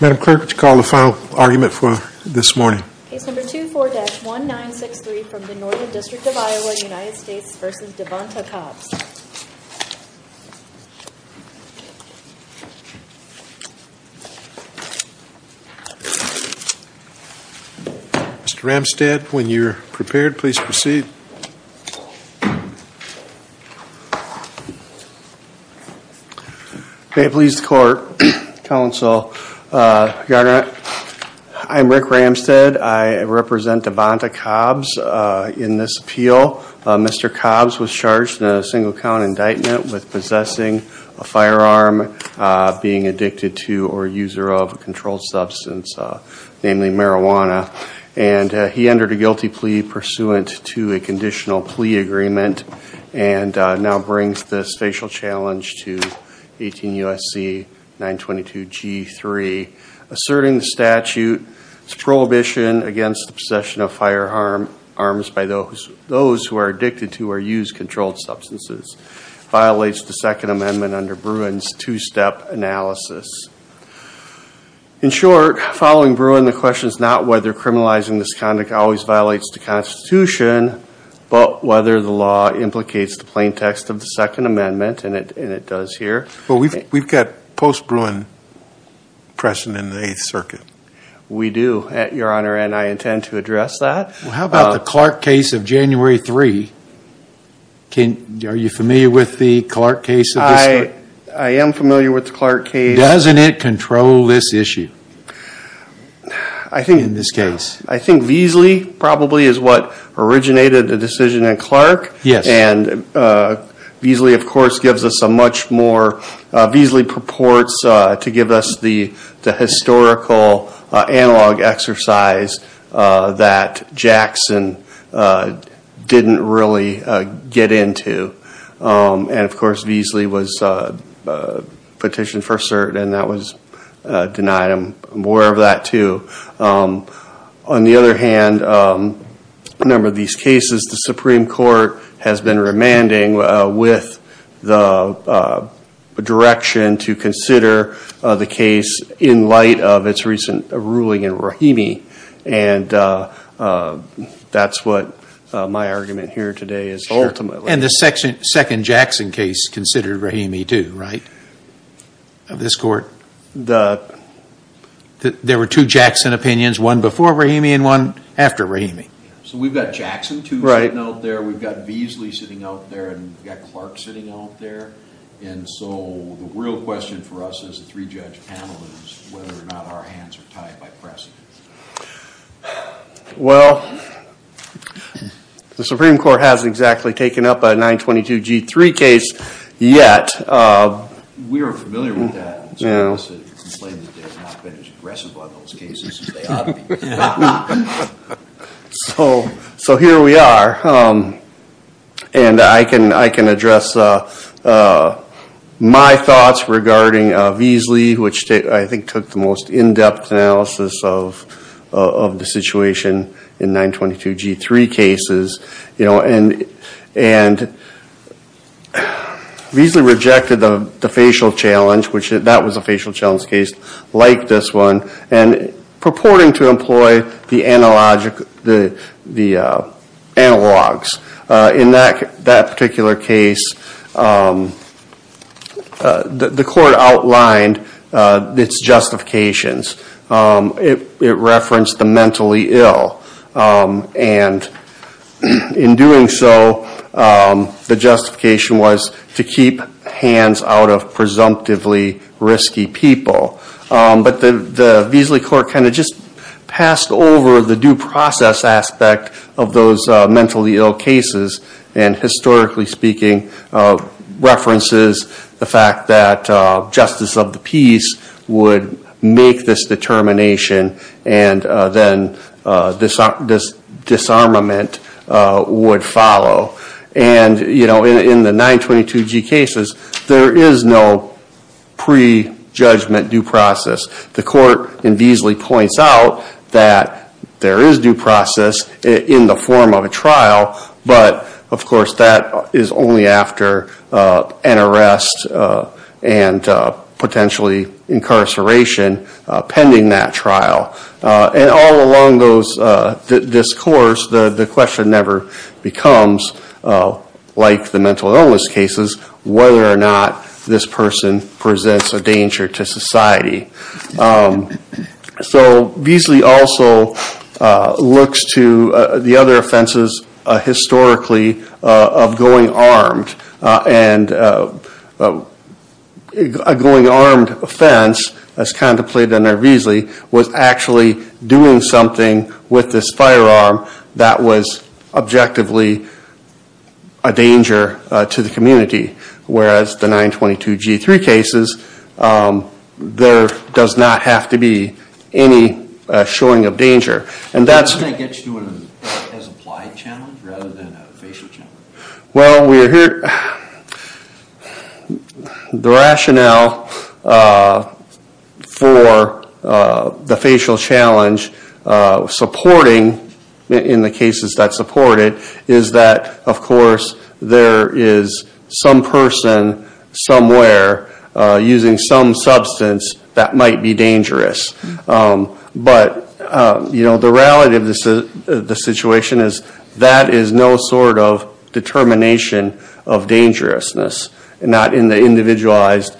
Madam Clerk, would you call the final argument for this morning? Case number 24-1963 from the Northern District of Iowa, United States v. Devonta Cobbs Mr. Ramstad, when you're prepared, please proceed May it please the court, counsel, your honor, I'm Rick Ramstad. I represent Devonta Cobbs in this appeal. Mr. Cobbs was charged in a single-count indictment with possessing a firearm, being addicted to or user of a controlled substance, namely marijuana, and he entered a guilty plea pursuant to a conviction. Mr. Cobbs was charged in a conditional plea agreement and now brings this facial challenge to 18 U.S.C. 922-G3, asserting the statute's prohibition against the possession of firearms by those who are addicted to or use controlled substances, violates the Second Amendment under Bruin's two-step analysis. In short, following Bruin, the question is not whether criminalizing this conduct always violates the Constitution, but whether the law implicates the plain text of the Second Amendment, and it does here. We've got post-Bruin precedent in the Eighth Circuit. We do, your honor, and I intend to address that. How about the Clark case of January 3? Are you familiar with the Clark case? I am familiar with the Clark case. Doesn't it control this issue in this case? I think Veasley probably is what originated the decision in Clark. And Veasley, of course, gives us a much more – Veasley purports to give us the historical analog exercise that Jackson didn't really get into. And, of course, Veasley was petitioned for cert, and that was denied. I'm aware of that, too. On the other hand, a number of these cases, the Supreme Court has been remanding with the direction to consider the case in light of its recent ruling in Rahimi, and that's what my argument here today is ultimately. And the second Jackson case considered Rahimi, too, right, of this court? There were two Jackson opinions, one before Rahimi and one after Rahimi. So we've got Jackson, too, sitting out there. We've got Veasley sitting out there, and we've got Clark sitting out there. And so the real question for us as a three-judge panel is whether or not our hands are tied by precedent. Well, the Supreme Court hasn't exactly taken up a 922G3 case yet. We are familiar with that. So here we are, and I can address my thoughts regarding Veasley, which I think took the most in-depth analysis of the situation in 922G3 cases. And Veasley rejected the facial challenge, which that was a facial challenge case like this one, and purporting to employ the analogs. In that particular case, the court outlined its justifications. It referenced the mentally ill, and in doing so, the justification was to keep hands out of presumptively risky people. But the Veasley court kind of just passed over the due process aspect of those mentally ill cases, and historically speaking, references the fact that justice of the peace would make this determination, and then this disarmament would follow. And in the 922G cases, there is no pre-judgment due process. The court in Veasley points out that there is due process in the form of a trial, but of course that is only after an arrest and potentially incarceration pending that trial. And all along this course, the question never becomes, like the mental illness cases, whether or not this person presents a danger to society. So Veasley also looks to the other offenses historically of going armed. And a going armed offense, as contemplated under Veasley, was actually doing something with this firearm that was objectively a danger to the community. Whereas the 922G3 cases, there does not have to be any showing of danger. And that's... using some substance that might be dangerous. But the reality of the situation is that is no sort of determination of dangerousness, not in the individualized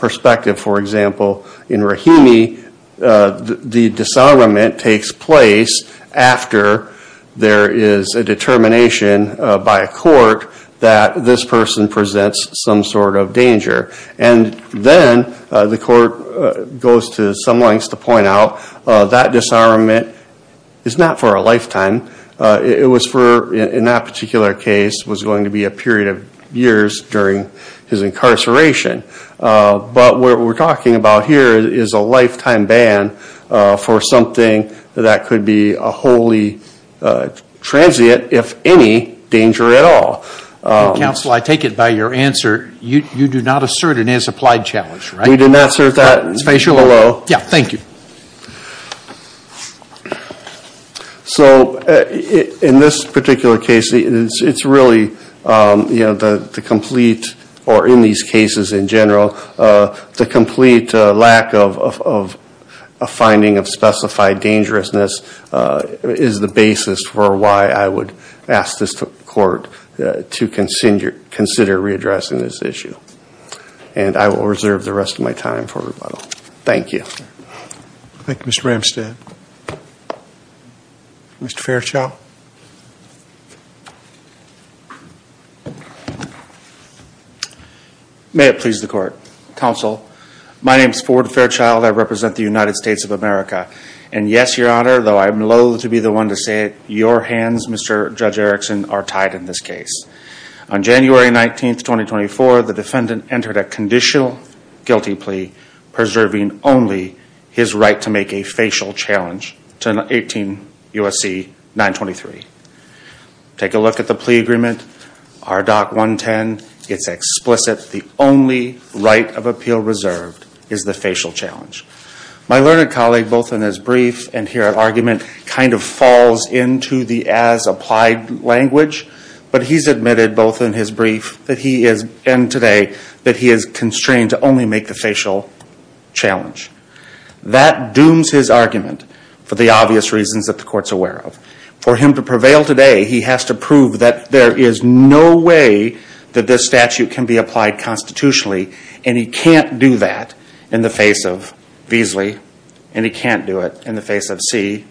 perspective. For example, in Rahimi, the disarmament takes place after there is a determination by a court that this person presents some sort of danger. And then the court goes to some lengths to point out that disarmament is not for a lifetime. It was for, in that particular case, was going to be a period of years during his incarceration. But what we're talking about here is a lifetime ban for something that could be a wholly transient, if any, danger at all. Counsel, I take it by your answer, you do not assert an as-applied challenge, right? We did not assert that below. Yeah, thank you. So in this particular case, it's really the complete, or in these cases in general, the complete lack of a finding of specified dangerousness is the basis for why I would ask this court to consider readdressing this issue. And I will reserve the rest of my time for rebuttal. Thank you. Thank you, Mr. Ramstad. Mr. Fairchild. May it please the court. Counsel, my name is Ford Fairchild. I represent the United States of America. And yes, Your Honor, though I'm loathe to be the one to say it, your hands, Mr. Judge Erickson, are tied in this case. On January 19th, 2024, the defendant entered a conditional guilty plea preserving only his right to make a facial challenge to 18 U.S.C. 923. Take a look at the plea agreement, RDOC 110. It's explicit. The only right of appeal reserved is the facial challenge. My learned colleague, both in his brief and here at argument, kind of falls into the as-applied language, but he's admitted both in his brief and today that he is constrained to only make the facial challenge. That dooms his argument for the obvious reasons that the court's aware of. For him to prevail today, he has to prove that there is no way that this statute can be applied constitutionally, and he can't do that in the face of Beasley, and he can't do it in the face of See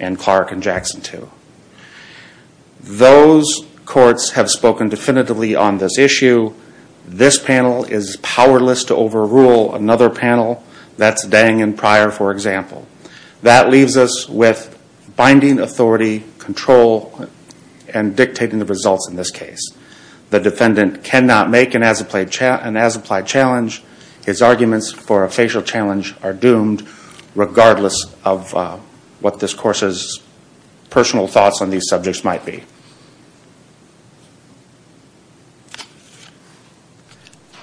and Clark and Jackson too. Those courts have spoken definitively on this issue. This panel is powerless to overrule another panel that's Dang and Pryor, for example. That leaves us with binding authority, control, and dictating the results in this case. The defendant cannot make an as-applied challenge. His arguments for a facial challenge are doomed, regardless of what this course's personal thoughts on these subjects might be.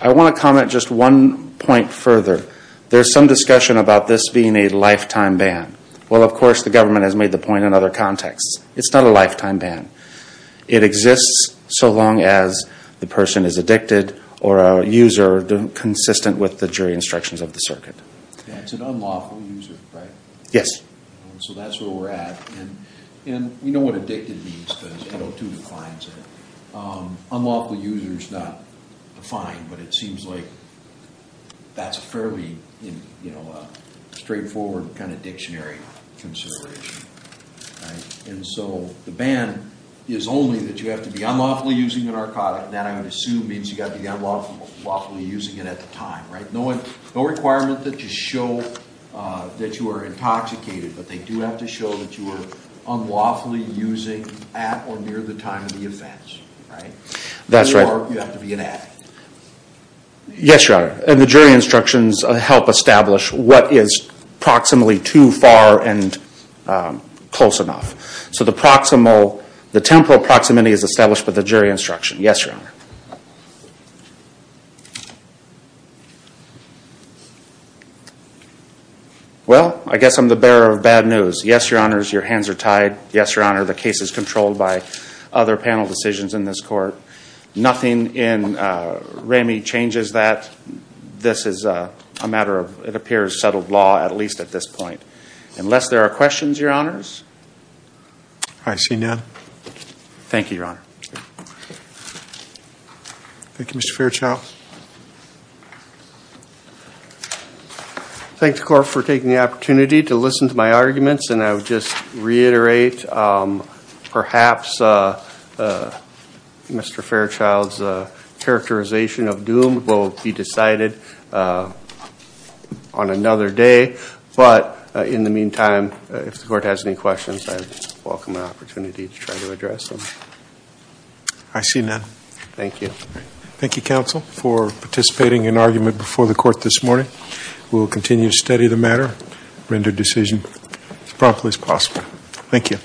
I want to comment just one point further. There's some discussion about this being a lifetime ban. Well, of course, the government has made the point in other contexts. It's not a lifetime ban. It exists so long as the person is addicted or a user consistent with the jury instructions of the circuit. It's an unlawful user, right? Yes. So that's where we're at. And we know what addicted means because 102 defines it. Unlawful user is not defined, but it seems like that's a fairly straightforward kind of dictionary consideration. And so the ban is only that you have to be unlawfully using a narcotic. That, I would assume, means you have to be unlawfully using it at the time, right? No requirement that you show that you are intoxicated, but they do have to show that you are unlawfully using at or near the time of the offense. Right? That's right. Or you have to be an addict. Yes, Your Honor. And the jury instructions help establish what is proximally too far and close enough. So the temporal proximity is established by the jury instruction. Yes, Your Honor. Well, I guess I'm the bearer of bad news. Yes, Your Honors, your hands are tied. Yes, Your Honor, the case is controlled by other panel decisions in this court. Nothing in Ramey changes that. This is a matter of, it appears, settled law, at least at this point. Unless there are questions, Your Honors? I see none. Thank you, Your Honor. Thank you, Mr. Fairchild. Thanks, Court, for taking the opportunity to listen to my arguments. And I would just reiterate, perhaps Mr. Fairchild's characterization of doom will be decided on another day. But in the meantime, if the Court has any questions, I welcome the opportunity to try to address them. I see none. Thank you. Thank you, Counsel. Thank you for participating in argument before the Court this morning. We will continue to study the matter, render decision as promptly as possible. Thank you.